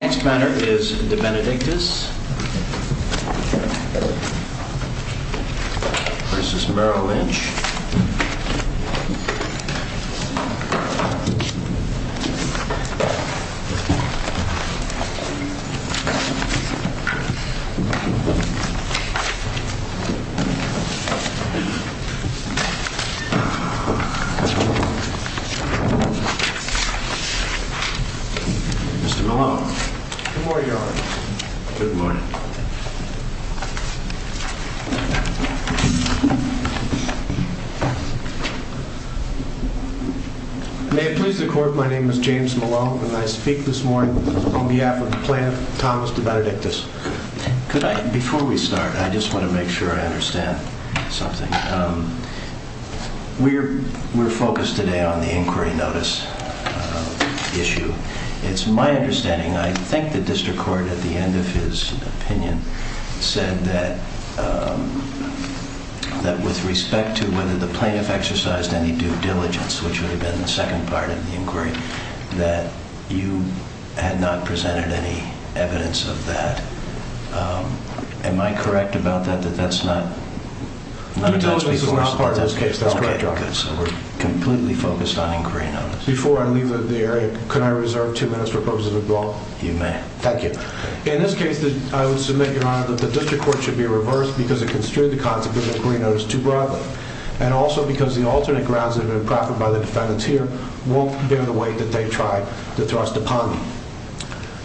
The next matter is Debenedictis v. Merrill Lynch&Co. Mr. Malone. Good morning, Your Honor. Good morning. May it please the Court, my name is James Malone and I speak this morning on behalf of the plaintiff, Thomas DeBenedictis. Before we start, I just want to make sure I understand something. We're focused today on the inquiry notice issue. It's my understanding, I think the district court at the end of his opinion said that with respect to whether the plaintiff exercised any due diligence, which would have been the second part of the inquiry, that you had not presented any evidence of that. Am I correct about that, that that's not? No, that's not part of this case. That's correct, Your Honor. Okay, good. So we're completely focused on inquiry notice. Before I leave the area, can I reserve two minutes for purposes of the brawl? You may. Thank you. In this case, I would submit, Your Honor, that the district court should be reversed because it construed the concept of inquiry notice too broadly. And also because the alternate grounds that have been proffered by the defendants here won't bear the weight that they tried to thrust upon them.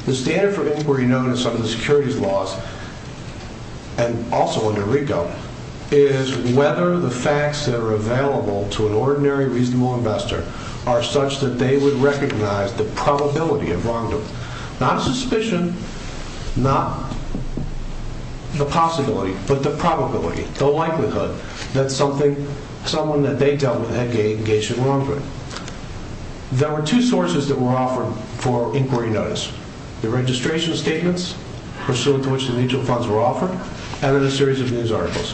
The standard for inquiry notice under the securities laws, and also under RICO, is whether the facts that are available to an ordinary reasonable investor are such that they would recognize the probability of wrongdoing. Not suspicion, not the possibility, but the probability, the likelihood that someone that they dealt with had engaged in wrongdoing. There were two sources that were offered for inquiry notice. The registration statements, pursuant to which the mutual funds were offered, and then a series of news articles.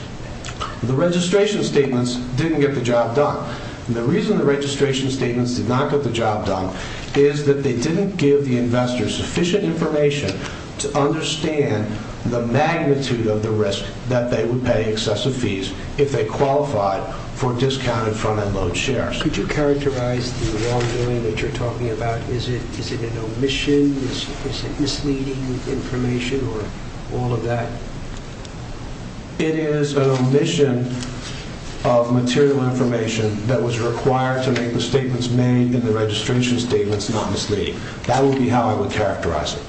The registration statements didn't get the job done. The reason the registration statements did not get the job done is that they didn't give the investors sufficient information to understand the magnitude of the risk that they would pay excessive fees if they qualified for discounted front-end loan shares. Could you characterize the wrongdoing that you're talking about? Is it an omission? Is it misleading information, or all of that? It is an omission of material information that was required to make the statements made in the registration statements not misleading. That would be how I would characterize it.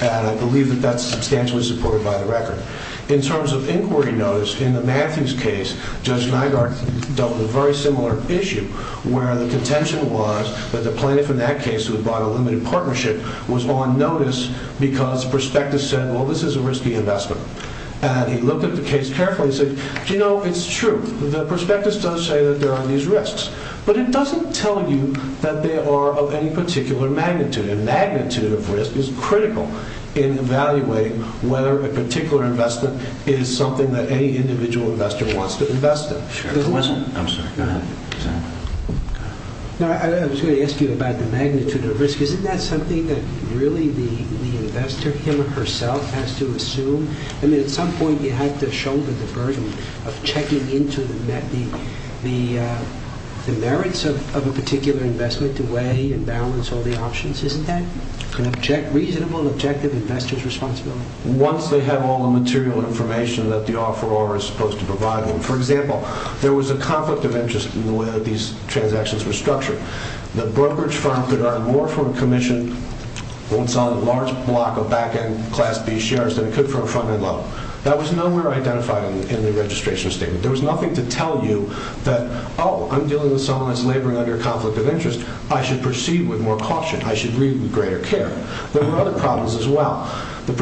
And I believe that that's substantially supported by the record. In terms of inquiry notice, in the Matthews case, Judge Nygaard dealt with a very similar issue, where the contention was that the plaintiff in that case, who had bought a limited partnership, was on notice because Prospectus said, well, this is a risky investment. And he looked at the case carefully and said, you know, it's true. Prospectus does say that there are these risks. But it doesn't tell you that they are of any particular magnitude. A magnitude of risk is critical in evaluating whether a particular investment is something that any individual investor wants to invest in. I'm sorry. Go ahead. I was going to ask you about the magnitude of risk. Isn't that something that really the investor, him or herself, has to assume? I mean, at some point you have to shoulder the burden of checking into the merits of a particular investment to weigh and balance all the options. Isn't that a reasonable, objective investor's responsibility? Once they have all the material information that the offeror is supposed to provide them. For example, there was a conflict of interest in the way that these transactions were structured. The brokerage firm could earn more from a commission once on a large block of back-end Class B shares than it could from a front-end loan. That was nowhere identified in the registration statement. There was nothing to tell you that, oh, I'm dealing with someone that's laboring under a conflict of interest. I should proceed with more caution. I should read with greater care. There were other problems as well. There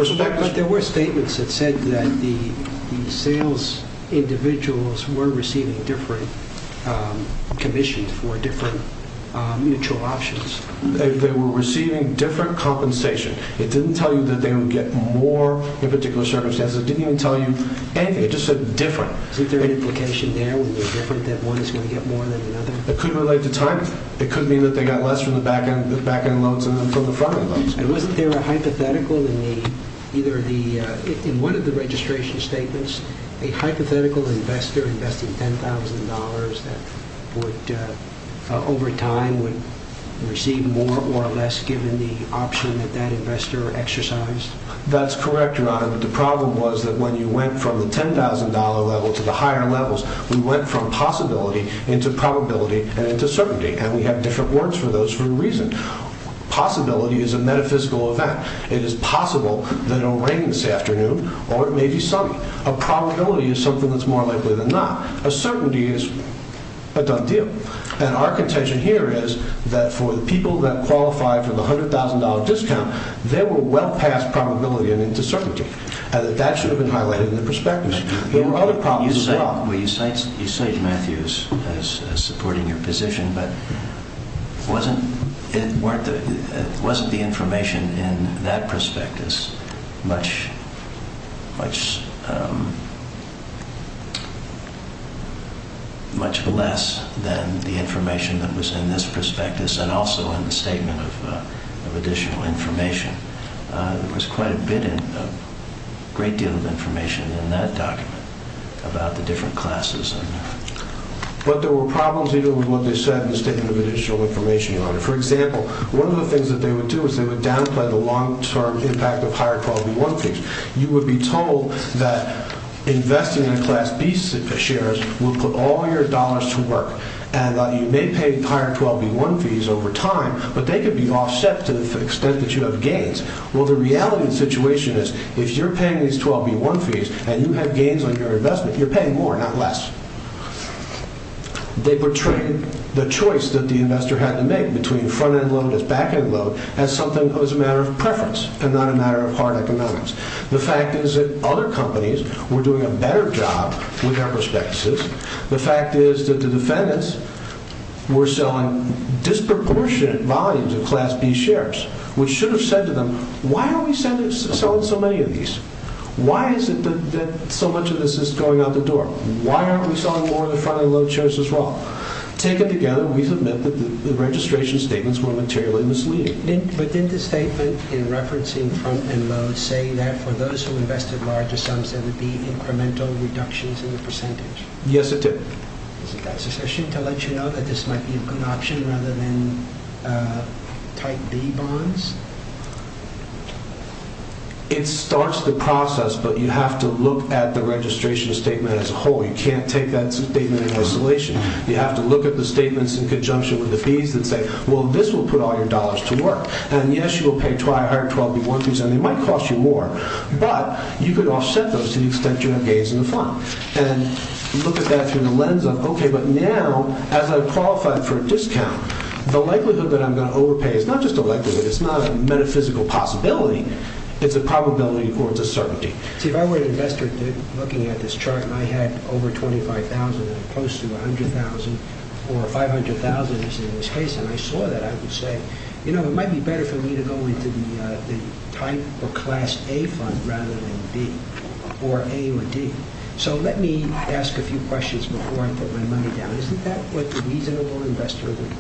were statements that said that the sales individuals were receiving different commissions for different mutual options. They were receiving different compensation. It didn't tell you that they would get more in particular circumstances. It didn't even tell you anything. It just said different. Isn't there an implication there that one is going to get more than another? It could relate to time. It could mean that they got less from the back-end loans than from the front-end loans. And wasn't there a hypothetical in one of the registration statements? A hypothetical investor investing $10,000 that would, over time, receive more or less given the option that that investor exercised? That's correct, Your Honor. But the problem was that when you went from the $10,000 level to the higher levels, we went from possibility into probability and into certainty. And we have different words for those for a reason. Possibility is a metaphysical event. It is possible that it will rain this afternoon or it may be sunny. A probability is something that's more likely than not. A certainty is a done deal. And our contention here is that for the people that qualify for the $100,000 discount, they were well past probability and into certainty. And that should have been highlighted in the prospectus. There were other problems as well. Well, you cite Matthews as supporting your position, but wasn't the information in that prospectus much less than the information that was in this prospectus and also in the statement of additional information? There was quite a great deal of information in that document about the different classes. But there were problems with what they said in the statement of additional information, Your Honor. For example, one of the things that they would do is they would downplay the long-term impact of higher 12B1 fees. You would be told that investing in Class B shares would put all your dollars to work. And that you may pay higher 12B1 fees over time, but they could be offset to the extent that you have gains. Well, the reality of the situation is if you're paying these 12B1 fees and you have gains on your investment, you're paying more, not less. They portrayed the choice that the investor had to make between front-end load and back-end load as something that was a matter of preference and not a matter of hard economics. The fact is that other companies were doing a better job with their prospectuses. The fact is that the defendants were selling disproportionate volumes of Class B shares, which should have said to them, Why are we selling so many of these? Why is it that so much of this is going out the door? Why aren't we selling more of the front-end load shares as well? Taken together, we submit that the registration statements were materially misleading. But didn't the statement in referencing front-end load say that for those who invested larger sums, there would be incremental reductions in the percentage? Yes, it did. Is it that sufficient to let you know that this might be a good option rather than type B bonds? It starts the process, but you have to look at the registration statement as a whole. You can't take that statement in isolation. You have to look at the statements in conjunction with the fees and say, well, this will put all your dollars to work. And yes, you will pay higher 12B1 fees, and they might cost you more, but you could offset those to the extent you have gains in the fund. And look at that through the lens of, okay, but now, as I qualify for a discount, the likelihood that I'm going to overpay is not just a likelihood. It's not a metaphysical possibility. It's a probability or it's a certainty. See, if I were an investor looking at this chart and I had over $25,000 and close to $100,000 or $500,000, as in this case, and I saw that, I would say, you know, it might be better for me to go into the type or class A fund rather than B or A or D. So let me ask a few questions before I put my money down. Isn't that what a reasonable investor would do?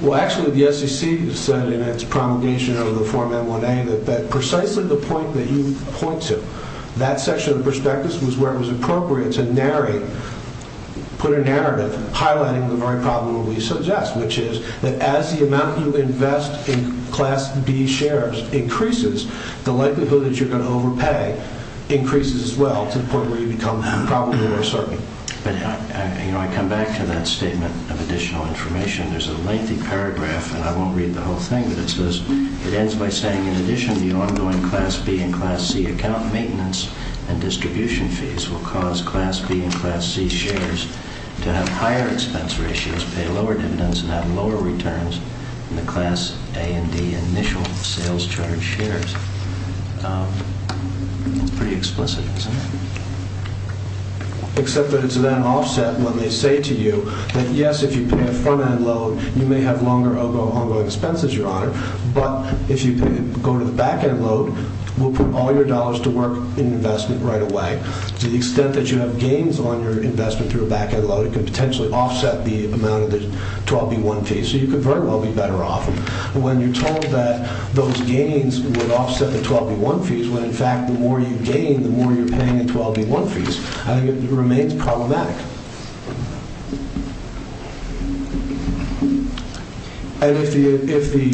Well, actually, the SEC said in its promulgation of the Form M1A that precisely the point that you point to, that section of the prospectus was where it was appropriate to put a narrative highlighting the very problem we suggest, which is that as the amount you invest in Class B shares increases, the likelihood that you're going to overpay increases as well to the point where you become probably more certain. But, you know, I come back to that statement of additional information. There's a lengthy paragraph, and I won't read the whole thing, but it says it ends by saying, in addition to the ongoing Class B and Class C account, maintenance and distribution fees will cause Class B and Class C shares to have higher expense ratios, pay lower dividends, and have lower returns than the Class A and D initial sales charge shares. It's pretty explicit, isn't it? Except that it's then offset when they say to you that, yes, if you pay a front-end load, you may have longer ongoing expenses, Your Honor, but if you go to the back-end load, we'll put all your dollars to work in investment right away. To the extent that you have gains on your investment through a back-end load, it could potentially offset the amount of the 12B1 fees, so you could very well be better off. When you're told that those gains would offset the 12B1 fees when, in fact, the more you gain, the more you're paying in 12B1 fees, I think it remains problematic. And if the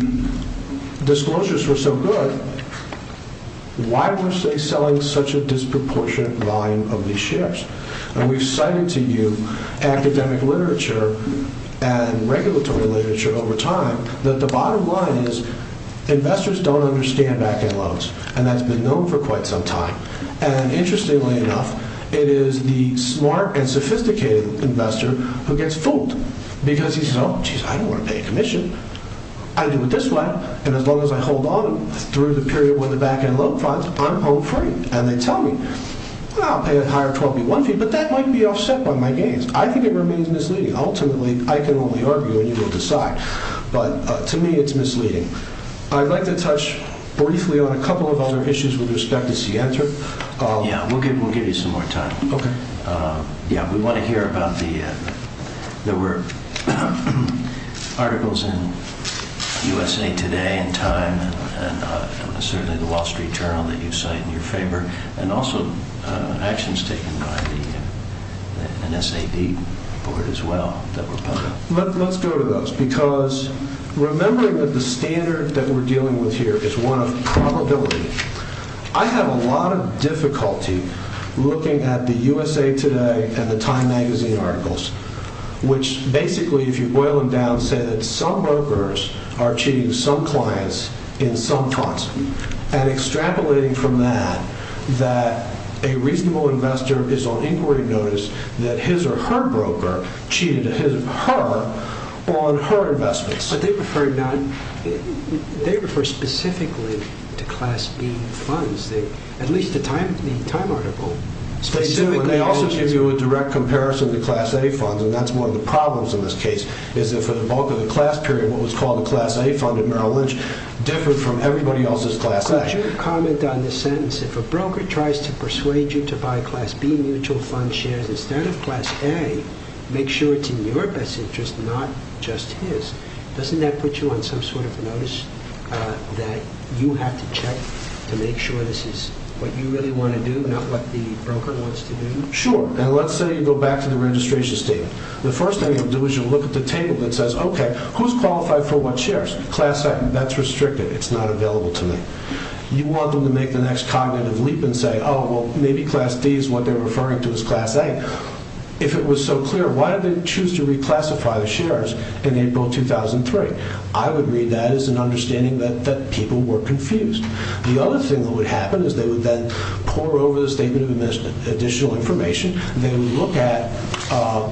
disclosures were so good, why were they selling such a disproportionate volume of these shares? And we've cited to you academic literature and regulatory literature over time that the bottom line is investors don't understand back-end loads, and that's been known for quite some time. And interestingly enough, it is the smart and sophisticated investor who gets fooled because he says, oh, jeez, I don't want to pay a commission. I do it this way, and as long as I hold on through the period when the back-end load falls, I'm home free. And they tell me, well, I'll pay a higher 12B1 fee, but that might be offset by my gains. I think it remains misleading. Ultimately, I can only argue, and you will decide. But to me, it's misleading. I'd like to touch briefly on a couple of other issues with respect to Center. Yeah, we'll give you some more time. We want to hear about the – there were articles in USA Today and Time and certainly the Wall Street Journal that you cite in your favor, and also actions taken by the NSAB board as well that were published. Let's go to those, because remembering that the standard that we're dealing with here is one of probability. I have a lot of difficulty looking at the USA Today and the Time magazine articles, which basically, if you boil them down, say that some brokers are cheating some clients in some concept and extrapolating from that that a reasonable investor is on inquiry notice that his or her broker cheated her on her investments. But they refer specifically to Class B funds, at least the Time article. They also give you a direct comparison to Class A funds, and that's one of the problems in this case, is that for the bulk of the class period, what was called the Class A fund at Merrill Lynch differed from everybody else's Class A. Could you comment on the sentence, if a broker tries to persuade you to buy Class B mutual fund shares instead of Class A, make sure it's in your best interest, not just his. Doesn't that put you on some sort of notice that you have to check to make sure this is what you really want to do, not what the broker wants to do? Sure, and let's say you go back to the registration statement. The first thing you'll do is you'll look at the table that says, okay, who's qualified for what shares? Class A, that's restricted. It's not available to me. You want them to make the next cognitive leap and say, oh, well, maybe Class D is what they're referring to as Class A. If it was so clear, why did they choose to reclassify the shares in April 2003? I would read that as an understanding that people were confused. The other thing that would happen is they would then pour over the statement of additional information. They would look at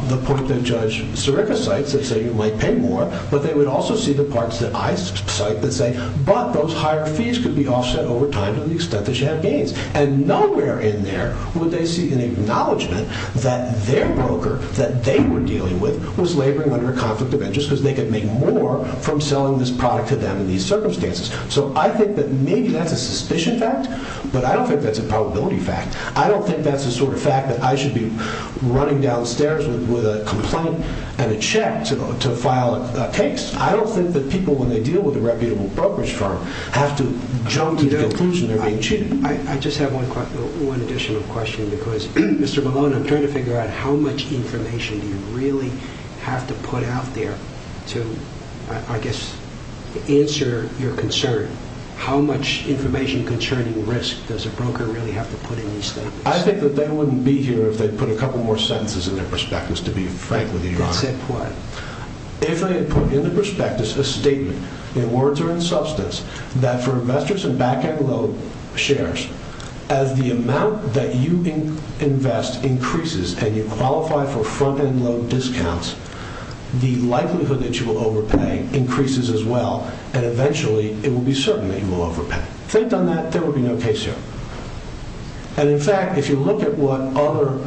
the point that Judge Sirica cites that say you might pay more, but they would also see the parts that I cite that say, but those higher fees could be offset over time to the extent that you have gains. And nowhere in there would they see an acknowledgment that their broker, that they were dealing with, was laboring under a conflict of interest because they could make more from selling this product to them in these circumstances. So I think that maybe that's a suspicion fact, but I don't think that's a probability fact. I don't think that's the sort of fact that I should be running downstairs with a complaint and a check to file a case. I don't think that people, when they deal with a reputable brokerage firm, have to jump to the conclusion they're being cheated. I just have one additional question because, Mr. Malone, I'm trying to figure out how much information do you really have to put out there to, I guess, answer your concern. How much information concerning risk does a broker really have to put in these things? I think that they wouldn't be here if they put a couple more sentences in their prospectus, to be frank with you, Your Honor. If they put in the prospectus a statement, in words or in substance, that for investors in back-end load shares, as the amount that you invest increases and you qualify for front-end load discounts, the likelihood that you will overpay increases as well, and eventually it will be certain that you will overpay. If they had done that, there would be no case here. In fact, if you look at what other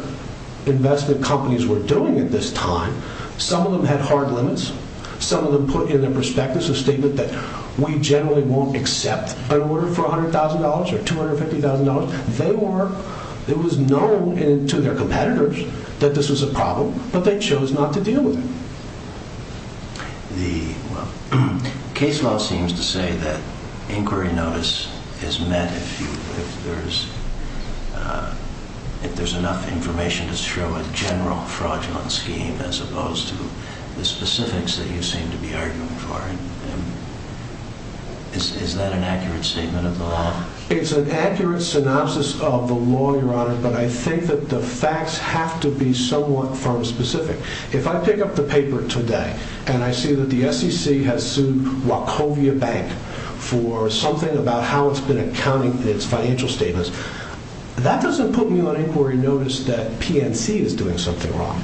investment companies were doing at this time, some of them had hard limits. Some of them put in their prospectus a statement that we generally won't accept an order for $100,000 or $250,000. It was known to their competitors that this was a problem, but they chose not to deal with it. The case law seems to say that inquiry notice is met if there's enough information to show a general fraudulent scheme, as opposed to the specifics that you seem to be arguing for. Is that an accurate statement of the law? It's an accurate synopsis of the law, Your Honor, but I think that the facts have to be somewhat firm-specific. If I pick up the paper today and I see that the SEC has sued Wachovia Bank for something about how it's been accounting its financial statements, that doesn't put me on inquiry notice that PNC is doing something wrong.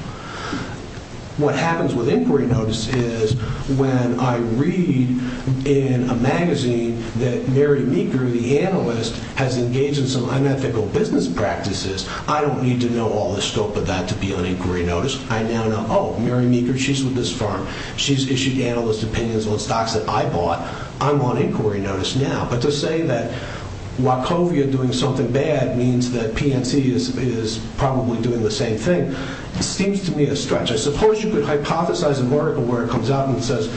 What happens with inquiry notice is when I read in a magazine that Mary Meeker, the analyst, has engaged in some unethical business practices, I don't need to know all the scope of that to be on inquiry notice. I now know, oh, Mary Meeker, she's with this firm. She's issued analyst opinions on stocks that I bought. I'm on inquiry notice now. But to say that Wachovia doing something bad means that PNC is probably doing the same thing seems to me a stretch. I suppose you could hypothesize an article where it comes out and says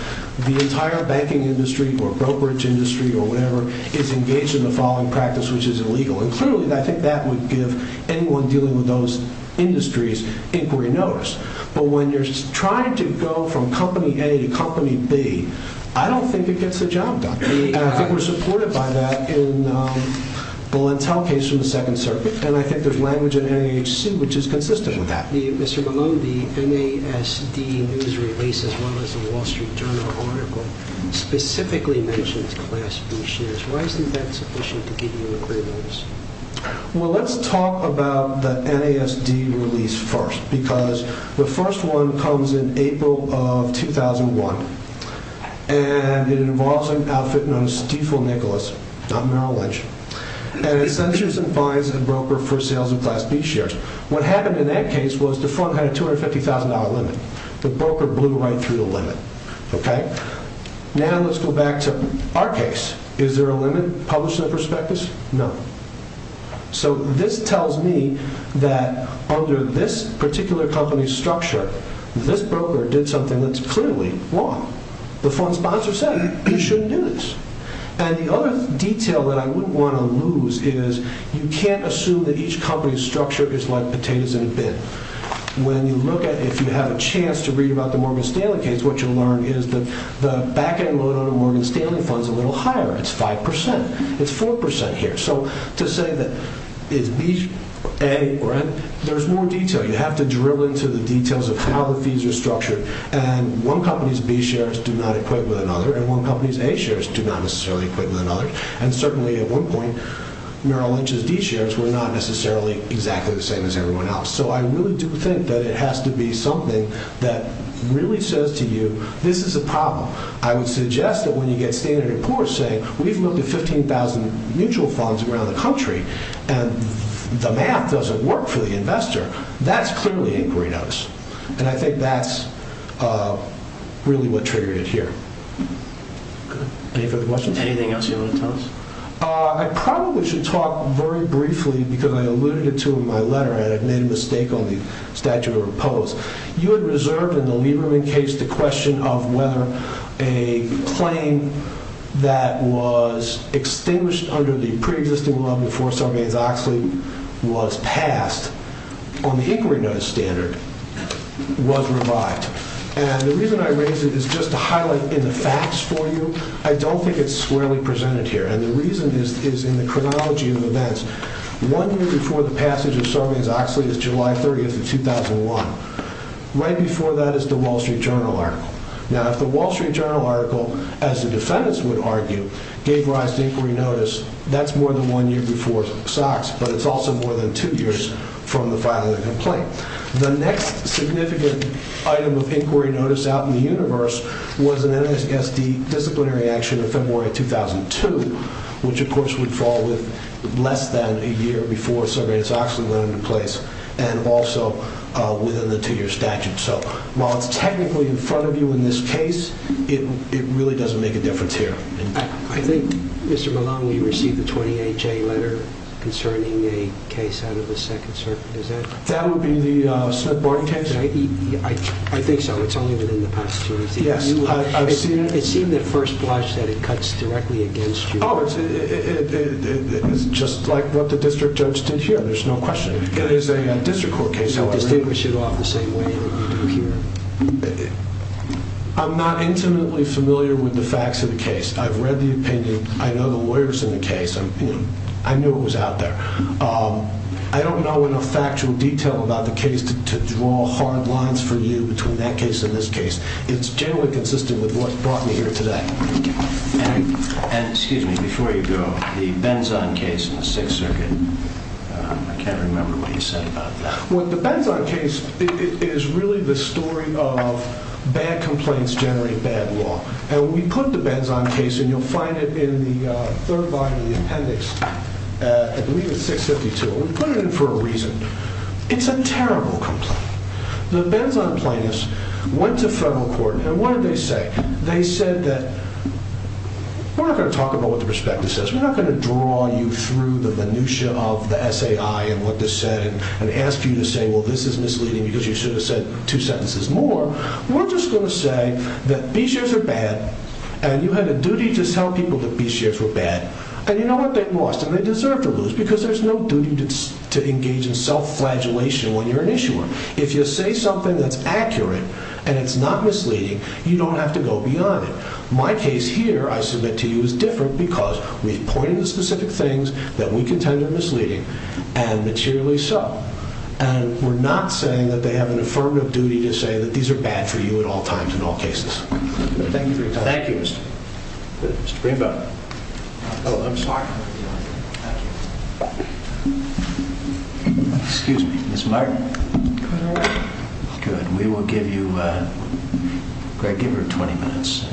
the entire banking industry or brokerage industry or whatever is engaged in the following practice, which is illegal. And clearly, I think that would give anyone dealing with those industries inquiry notice. But when you're trying to go from company A to company B, I don't think it gets the job done. And I think we're supported by that in the Lentel case from the Second Circuit. And I think there's language in NAHC which is consistent with that. Mr. Malone, the NASD news release, as well as the Wall Street Journal article, specifically mentions class B shares. Why isn't that sufficient to give you inquiry notice? Well, let's talk about the NASD release first because the first one comes in April of 2001. And it involves an outfit known as Stiefel Nicholas, not Merrill Lynch. And it censures and fines a broker for sales of class B shares. What happened in that case was the fund had a $250,000 limit. The broker blew right through the limit. Now let's go back to our case. Is there a limit published in the prospectus? No. So this tells me that under this particular company's structure, this broker did something that's clearly wrong. The fund sponsor said you shouldn't do this. And the other detail that I wouldn't want to lose is you can't assume that each company's structure is like potatoes in a bin. When you look at it, if you have a chance to read about the Morgan Stanley case, what you'll learn is that the back-end loan on a Morgan Stanley fund is a little higher. It's 5%. It's 4% here. So to say that it's B, A, or N, there's more detail. You have to drill into the details of how the fees are structured. And one company's B shares do not equate with another. And one company's A shares do not necessarily equate with another. And certainly at one point, Merrill Lynch's D shares were not necessarily exactly the same as everyone else. So I really do think that it has to be something that really says to you, this is a problem. I would suggest that when you get standard reports saying, we've looked at 15,000 mutual funds around the country, and the math doesn't work for the investor, that's clearly inquiry notice. And I think that's really what triggered it here. Any further questions? Anything else you want to tell us? I probably should talk very briefly, because I alluded it to in my letter, and I made a mistake on the statute of repose. You had reserved in the Lieberman case the question of whether a claim that was extinguished under the pre-existing law before Sarbanes-Oxley was passed. On the inquiry notice standard, was revived. And the reason I raise it is just to highlight in the facts for you, I don't think it's squarely presented here. And the reason is in the chronology of events. One year before the passage of Sarbanes-Oxley is July 30th of 2001. Right before that is the Wall Street Journal article. Now if the Wall Street Journal article, as the defendants would argue, gave rise to inquiry notice, that's more than one year before Sox, but it's also more than two years from the filing of the complaint. The next significant item of inquiry notice out in the universe was an NSSD disciplinary action in February 2002, which of course would fall with less than a year before Sarbanes-Oxley went into place, and also within the two-year statute. So while it's technically in front of you in this case, it really doesn't make a difference here. I think, Mr. Malone, you received the 28-J letter concerning a case out of the Second Circuit, is that right? That would be the Smith-Barton case? I think so, it's only been in the past two years. Yes, I've seen it. It seemed at first blush that it cuts directly against you. Oh, it's just like what the district judge did here, there's no question. It is a district court case, however. Do you distinguish it off the same way that you do here? I'm not intimately familiar with the facts of the case. I've read the opinion, I know the lawyers in the case, I knew it was out there. I don't know enough factual detail about the case to draw hard lines for you between that case and this case. It's generally consistent with what brought me here today. And, excuse me, before you go, the Benzon case in the Sixth Circuit, I can't remember what you said about that. The Benzon case is really the story of bad complaints generate bad law. And when we put the Benzon case, and you'll find it in the third volume of the appendix, I believe it's 652, we put it in for a reason. It's a terrible complaint. The Benzon plaintiffs went to federal court, and what did they say? They said that we're not going to talk about what the prospectus says, we're not going to draw you through the minutia of the SAI and what they said and ask you to say, well, this is misleading because you should have said two sentences more. We're just going to say that B-shares are bad, and you had a duty to tell people that B-shares were bad. And you know what? They lost, and they deserve to lose because there's no duty to engage in self-flagellation when you're an issuer. If you say something that's accurate and it's not misleading, you don't have to go beyond it. My case here, I submit to you, is different because we've pointed to specific things that we contend are misleading and materially so. And we're not saying that they have an affirmative duty to say that these are bad for you at all times in all cases. Thank you for your time. Thank you, Mr. Greenberg. Oh, I'm sorry. Excuse me, Ms. Martin. Good morning. Good. We will give you, Greg, give her 20 minutes.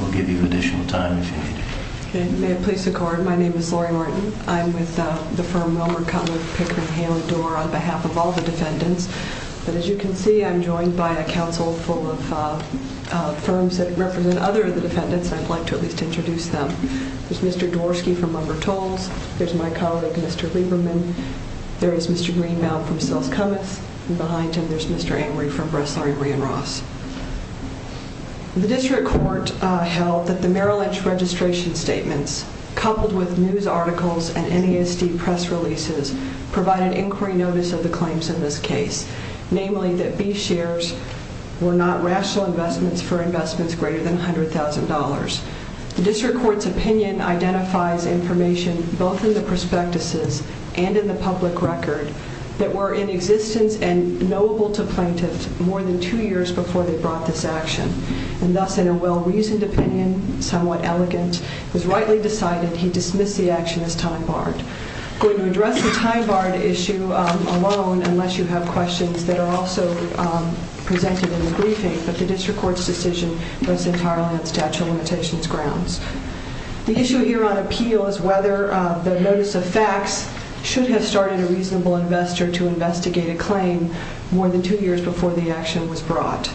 We'll give you additional time if you need it. May it please the court, my name is Lori Martin. I'm with the firm Wilmer, Cutler, Pickering, Hale, and Dorr on behalf of all the defendants. But as you can see, I'm joined by a council full of firms that represent other of the defendants, and I'd like to at least introduce them. There's Mr. Dvorsky from WilmerTolls. There's my colleague, Mr. Lieberman. There is Mr. Greenbaum from Sells Cummins. And behind him, there's Mr. Angry from Brassari, Bree, and Ross. The district court held that the Merrill Lynch registration statements, coupled with news articles and NESD press releases, provided inquiry notice of the claims in this case, namely that B shares were not rational investments for investments greater than $100,000. The district court's opinion identifies information both in the prospectuses and in the public record that were in existence and knowable to plaintiffs more than two years before they brought this action. And thus, in a well-reasoned opinion, somewhat elegant, it was rightly decided he'd dismiss the action as time-barred. I'm going to address the time-barred issue alone, unless you have questions that are also presented in the briefing, but the district court's decision rests entirely on statute of limitations grounds. The issue here on appeal is whether the notice of facts should have started a reasonable investor to investigate a claim more than two years before the action was brought.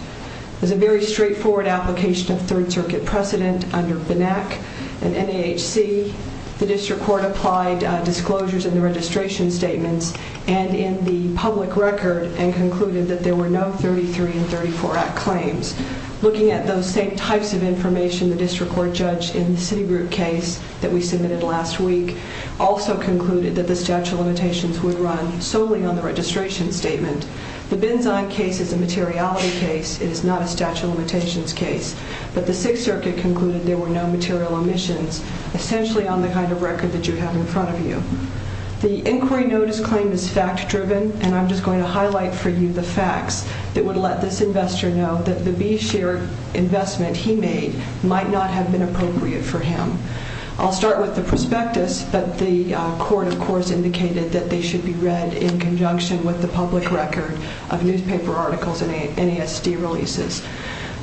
There's a very straightforward application of Third Circuit precedent under BNAC and NAHC. The district court applied disclosures in the registration statements and in the public record and concluded that there were no 33 and 34 Act claims. Looking at those same types of information, the district court judge in the Citigroup case that we submitted last week also concluded that the statute of limitations would run solely on the registration statement. The Benzine case is a materiality case. It is not a statute of limitations case. But the Sixth Circuit concluded there were no material omissions, essentially on the kind of record that you have in front of you. The inquiry notice claim is fact-driven and I'm just going to highlight for you the facts that would let this investor know that the B-share investment he made might not have been appropriate for him. I'll start with the prospectus, but the court, of course, indicated that they should be read in conjunction with the public record of newspaper articles and NASD releases.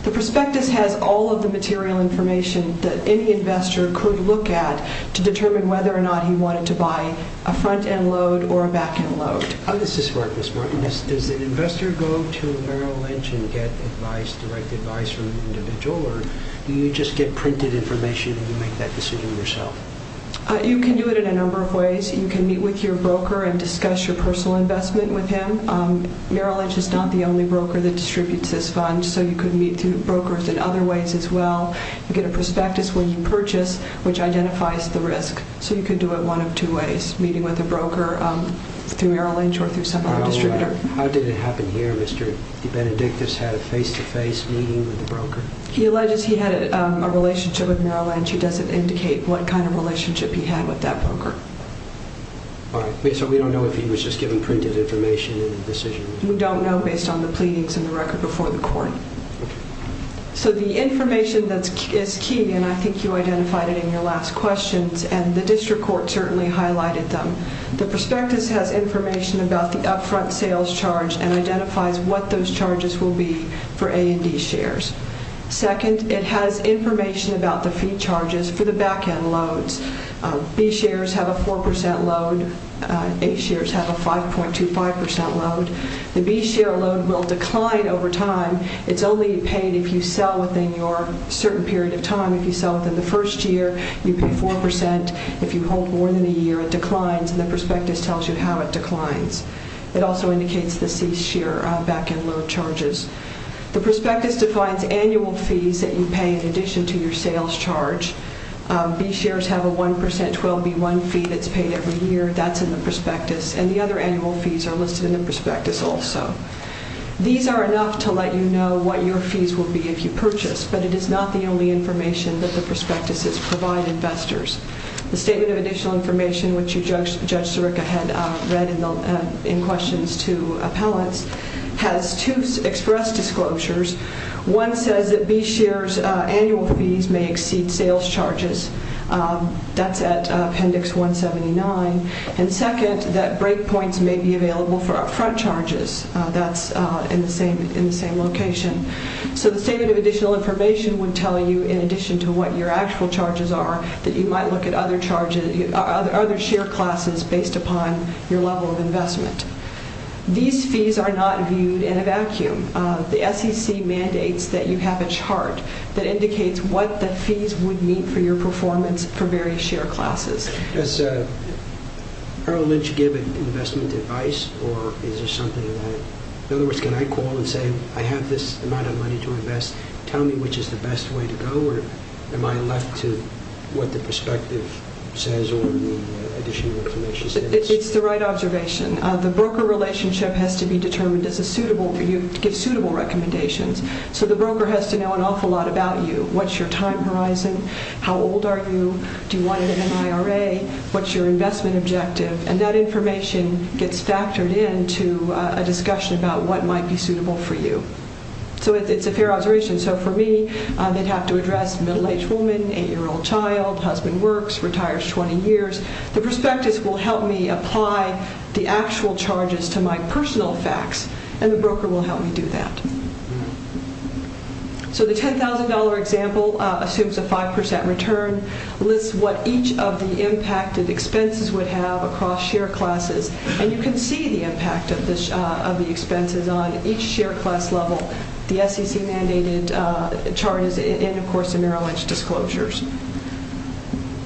The prospectus has all of the material information that any investor could look at to determine whether or not he wanted to buy a front-end load or a back-end load. How does this work, Ms. Martin? Does an investor go to Merrill Lynch and get advice, direct advice from the individual, or do you just get printed information and you make that decision yourself? You can do it in a number of ways. You can meet with your broker and discuss your personal investment with him. Merrill Lynch is not the only broker that distributes this fund, so you could meet through brokers in other ways as well. You get a prospectus where you purchase, which identifies the risk, so you could do it one of two ways, meeting with a broker through Merrill Lynch or through some other distributor. How did it happen here? Mr. Benedictus had a face-to-face meeting with the broker? He alleges he had a relationship with Merrill Lynch. He doesn't indicate what kind of relationship he had with that broker. So we don't know if he was just given printed information in the decision? We don't know based on the pleadings and the record before the court. So the information that is key, and I think you identified it in your last questions, and the district court certainly highlighted them. The prospectus has information about the up-front sales charge and identifies what those charges will be for A and D shares. Second, it has information about the fee charges for the back-end loads. B shares have up-front sales charges. A shares have a 4% load. A shares have a 5.25% load. The B share load will decline over time. It's only paid if you sell within your certain period of time. If you sell within the first year, you pay 4%. If you hold more than a year, it declines, and the prospectus tells you how it declines. It also indicates the C share back-end load charges. The prospectus defines annual fees that you pay in addition to your sales charge. B shares have a 1% 12B1 fee that's paid every year. That's in the prospectus, and the other annual fees are listed in the prospectus also. These are enough to let you know what your fees will be if you purchase, but it is not the only information that the prospectuses provide investors. The statement of additional information, which you, Judge Sirica, had read in questions to appellants, has two express disclosures. One says that B shares' annual fees may exceed sales charges. That's at Appendix 179. And second, that break points may be available for upfront charges. That's in the same location. So the statement of additional information would tell you, in addition to what your actual charges are, that you might look at other share classes These fees are not viewed in a vacuum. The SEC mandates that you have a chart that indicates what the fees would mean for your performance for various share classes. Does Harold Lynch give investment advice? In other words, can I call and say, I have this amount of money to invest. Tell me which is the best way to go, or am I left to what the prospective says or the additional information says? It's the right observation. The broker relationship has to be determined as a suitable, give suitable recommendations. So the broker has to know an awful lot about you. What's your time horizon? How old are you? Do you want an NIRA? What's your investment objective? And that information gets factored into a discussion about what might be suitable for you. So it's a fair observation. So for me, they'd have to address middle-aged woman, 8-year-old child, husband works, retires 20 years. The prospectus will help me apply the actual charges to my personal facts, and the broker will help me do that. So the $10,000 example assumes a 5% return, lists what each of the impacted expenses would have across share classes, and you can see the impact of the expenses on each share class level, the SEC-mandated charges, and, of course, the Merrill Lynch disclosures.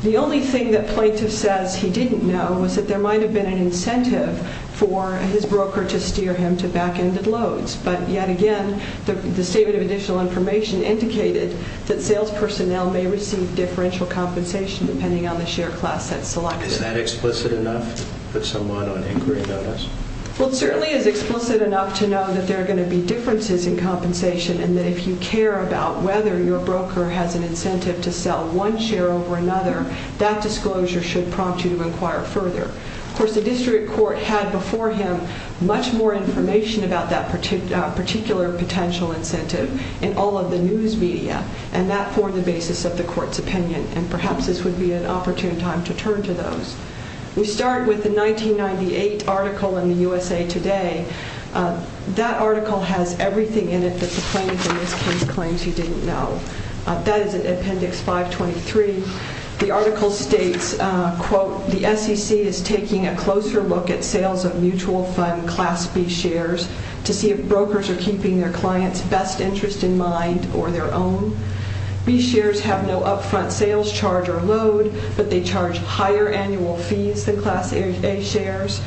The only thing that plaintiff says he didn't know was that there might have been an incentive for his broker to steer him to back-ended loads. But yet again, the statement of additional information indicated that sales personnel may receive differential compensation depending on the share class that's selected. Is that explicit enough to put someone on inquiry notice? Well, it certainly is explicit enough to know that there are going to be differences in compensation and that if you care about whether your broker has an incentive to sell one share over another, that disclosure should prompt you to inquire further. Of course, the district court had before him much more information about that particular potential incentive in all of the news media, and that for the basis of the court's opinion, and perhaps this would be an opportune time to turn to those. We start with the 1998 article in the USA Today. That article has everything in it that the plaintiff in this case claims he didn't know. That is in Appendix 523. The article states, quote, the SEC is taking a closer look at sales of mutual fund Class B shares to see if brokers are keeping their clients' best interest in mind or their own. B shares have no up-front sales charge or load, but they charge higher annual fees than Class A shares.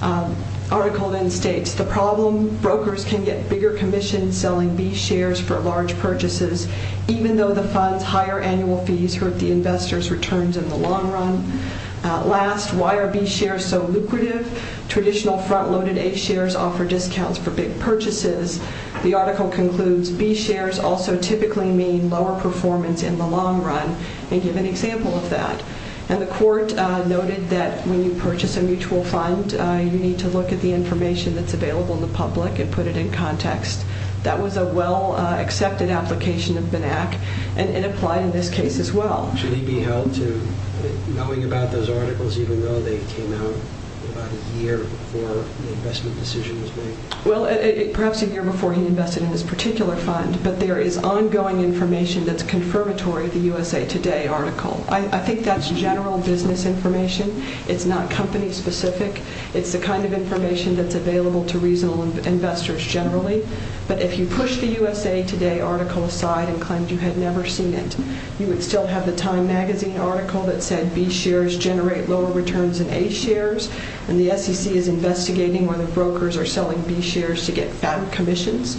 The article then states, the problem, brokers can get bigger commissions selling B shares for large purchases, even though the fund's higher annual fees hurt the investor's returns in the long run. Last, why are B shares so lucrative? Traditional front-loaded A shares offer discounts for big purchases. The article concludes B shares also typically mean lower performance in the long run, and give an example of that. And the court noted that when you purchase a mutual fund, you need to look at the information that's available in the public and put it in context. That was a well-accepted application of BNAC, and it applied in this case as well. Should he be held to knowing about those articles, even though they came out about a year before the investment decision was made? Well, perhaps a year before he invested in this particular fund, but there is ongoing information that's confirmatory of the USA Today article. I think that's general business information. It's not company-specific. It's the kind of information that's available to reasonable investors generally. But if you push the USA Today article aside and claimed you had never seen it, you would still have the Time magazine article that said B shares generate lower returns than A shares, and the SEC is investigating whether brokers are selling B shares to get fattened commissions.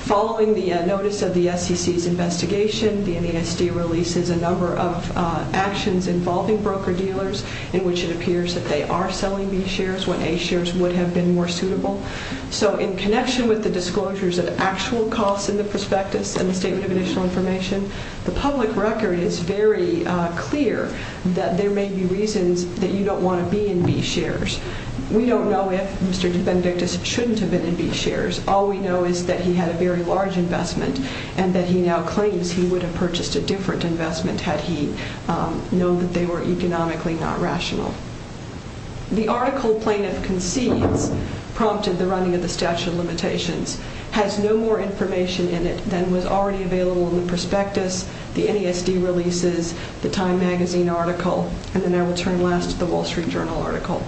Following the notice of the SEC's investigation, the NASD releases a number of actions involving broker-dealers in which it appears that they are selling B shares when A shares would have been more suitable. So in connection with the disclosures of actual costs in the prospectus and the statement of additional information, the public record is very clear that there may be reasons that you don't want to be in B shares. We don't know if Mr. Benedictus shouldn't have been in B shares. All we know is that he had a very large investment and that he now claims he would have purchased a different investment had he known that they were economically not rational. The article plaintiff concedes prompted the running of the statute of limitations has no more information in it than was already available in the prospectus, the NASD releases, the Time magazine article, and then I will turn last to the Wall Street Journal article.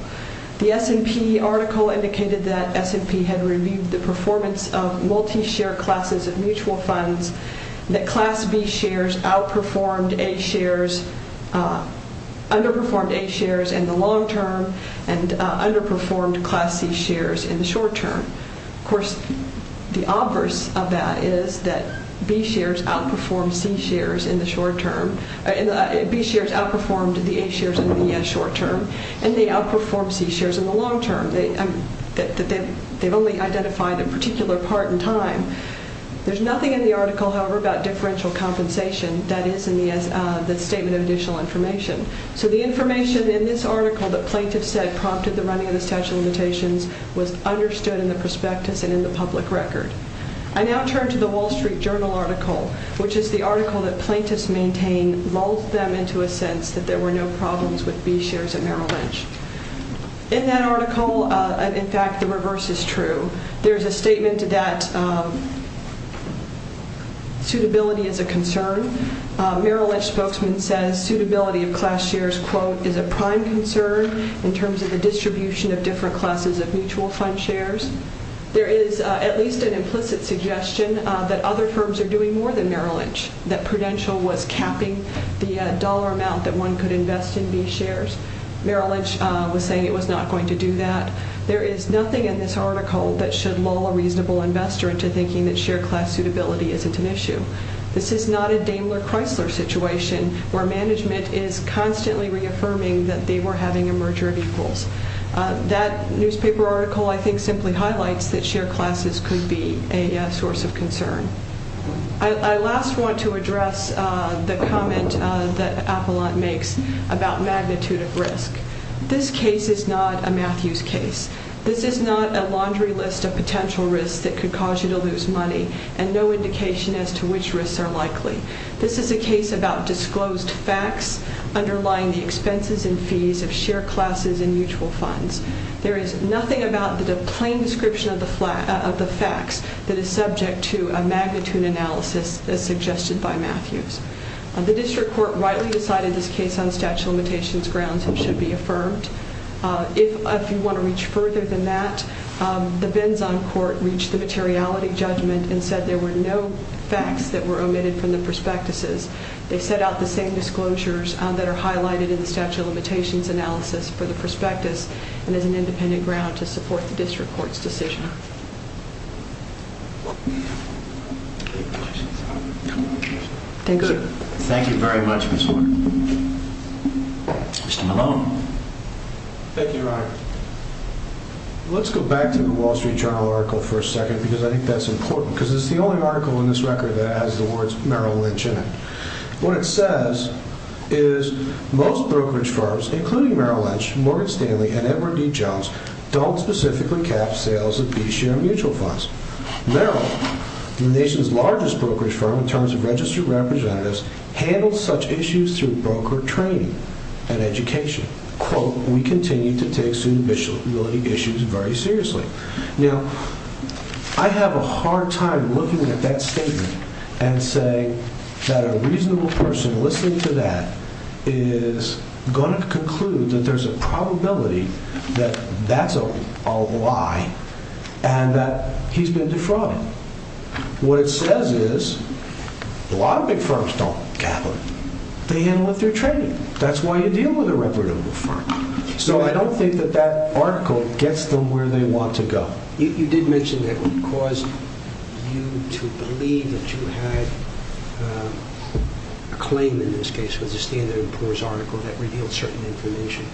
The S&P article indicated that S&P had reviewed the performance of multi-share classes of mutual funds that class B shares outperformed A shares, underperformed A shares in the long term and underperformed class C shares in the short term. Of course, the obverse of that is that B shares outperformed C shares in the short term and B shares outperformed the A shares in the short term and they outperformed C shares in the long term. They've only identified a particular part in time. There's nothing in the article, however, about differential compensation that is in the statement of additional information. So the information in this article that plaintiff said prompted the running of the statute of limitations was understood in the prospectus and in the public record. I now turn to the Wall Street Journal article, which is the article that plaintiffs maintain molded them into a sense that there were no problems with B shares at Merrill Lynch. In that article, in fact, the reverse is true. There's a statement that suitability is a concern. Merrill Lynch spokesman says, quote, There is at least an implicit suggestion that other firms are doing more than Merrill Lynch, that Prudential was capping the dollar amount that one could invest in B shares. Merrill Lynch was saying it was not going to do that. There is nothing in this article that should lull a reasonable investor into thinking that share class suitability isn't an issue. This is not a Daimler-Chrysler situation where management is constantly reaffirming that they were having a merger of equals. That newspaper article, I think, simply highlights that share classes could be a source of concern. I last want to address the comment that Appelant makes about magnitude of risk. This case is not a Matthews case. This is not a laundry list of potential risks that could cause you to lose money and no indication as to which risks are likely. This is a case about disclosed facts underlying the expenses and fees of share classes and mutual funds. There is nothing about the plain description of the facts that is subject to a magnitude analysis as suggested by Matthews. The district court rightly decided this case on statute of limitations grounds and should be affirmed. If you want to reach further than that, the Benzon court reached the materiality judgment and said there were no facts that were omitted from the prospectuses. They set out the same disclosures that are highlighted in the statute of limitations analysis for the prospectus and as an independent ground to support the district court's decision. Thank you. Thank you very much, Mr. Morgan. Mr. Malone. Thank you, Your Honor. Let's go back to the Wall Street Journal article for a second because I think that's important because it's the only article in this record that has the words Merrill Lynch in it. What it says is most brokerage firms, including Merrill Lynch, Morgan Stanley, and Edward D. Jones, don't specifically cap sales of B-share mutual funds. Merrill, the nation's largest brokerage firm in terms of registered representatives, handles such issues through broker training and education. Quote, we continue to take suitability issues very seriously. Now, I have a hard time looking at that statement and saying that a reasonable person listening to that is going to conclude that there's a probability that that's a lie and that he's been defrauded. What it says is a lot of big firms don't cap them. They handle it through training. That's why you deal with a reputable firm. So I don't think that that article gets them where they want to go. You did mention that it would cause you to believe that you had a claim in this case with the Standard & Poor's article that revealed certain information.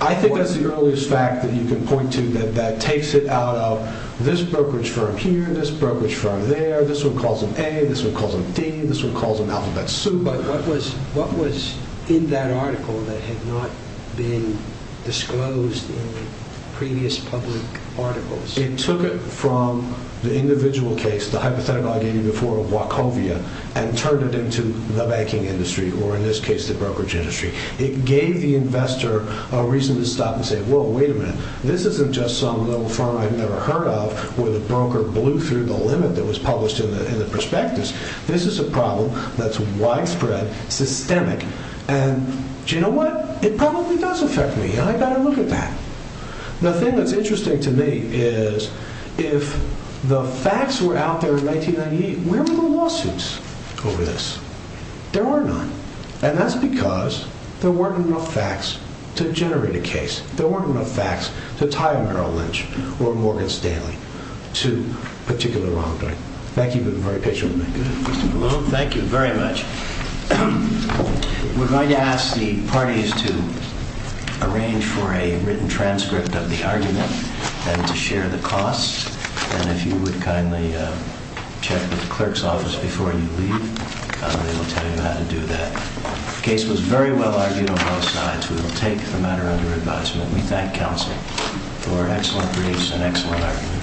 I think that's the earliest fact that you can point to that takes it out of this brokerage firm here, this brokerage firm there, this one calls them A, this one calls them D, this one calls them alphabet soup. But what was in that article that had not been disclosed in previous public articles? It took it from the individual case, the hypothetical I gave you before of Wachovia, and turned it into the banking industry, or in this case the brokerage industry. It gave the investor a reason to stop and say, whoa, wait a minute, this isn't just some little firm I've never heard of where the broker blew through the limit that was published in the prospectus. This is a problem that's widespread, systemic, and you know what? It probably does affect me and I've got to look at that. The thing that's interesting to me is if the facts were out there in 1998, where were the lawsuits over this? There were none. And that's because there weren't enough facts to generate a case. There weren't enough facts to tie Merrill Lynch or Morgan Stanley to particular wrongdoing. Thank you for being very patient with me. Thank you very much. We're going to ask the parties to arrange for a written transcript of the argument and to share the costs, and if you would kindly check with the clerk's office before you leave. They will tell you how to do that. The case was very well argued on both sides. We will take the matter under advisement. We thank counsel for excellent briefs and excellent argument.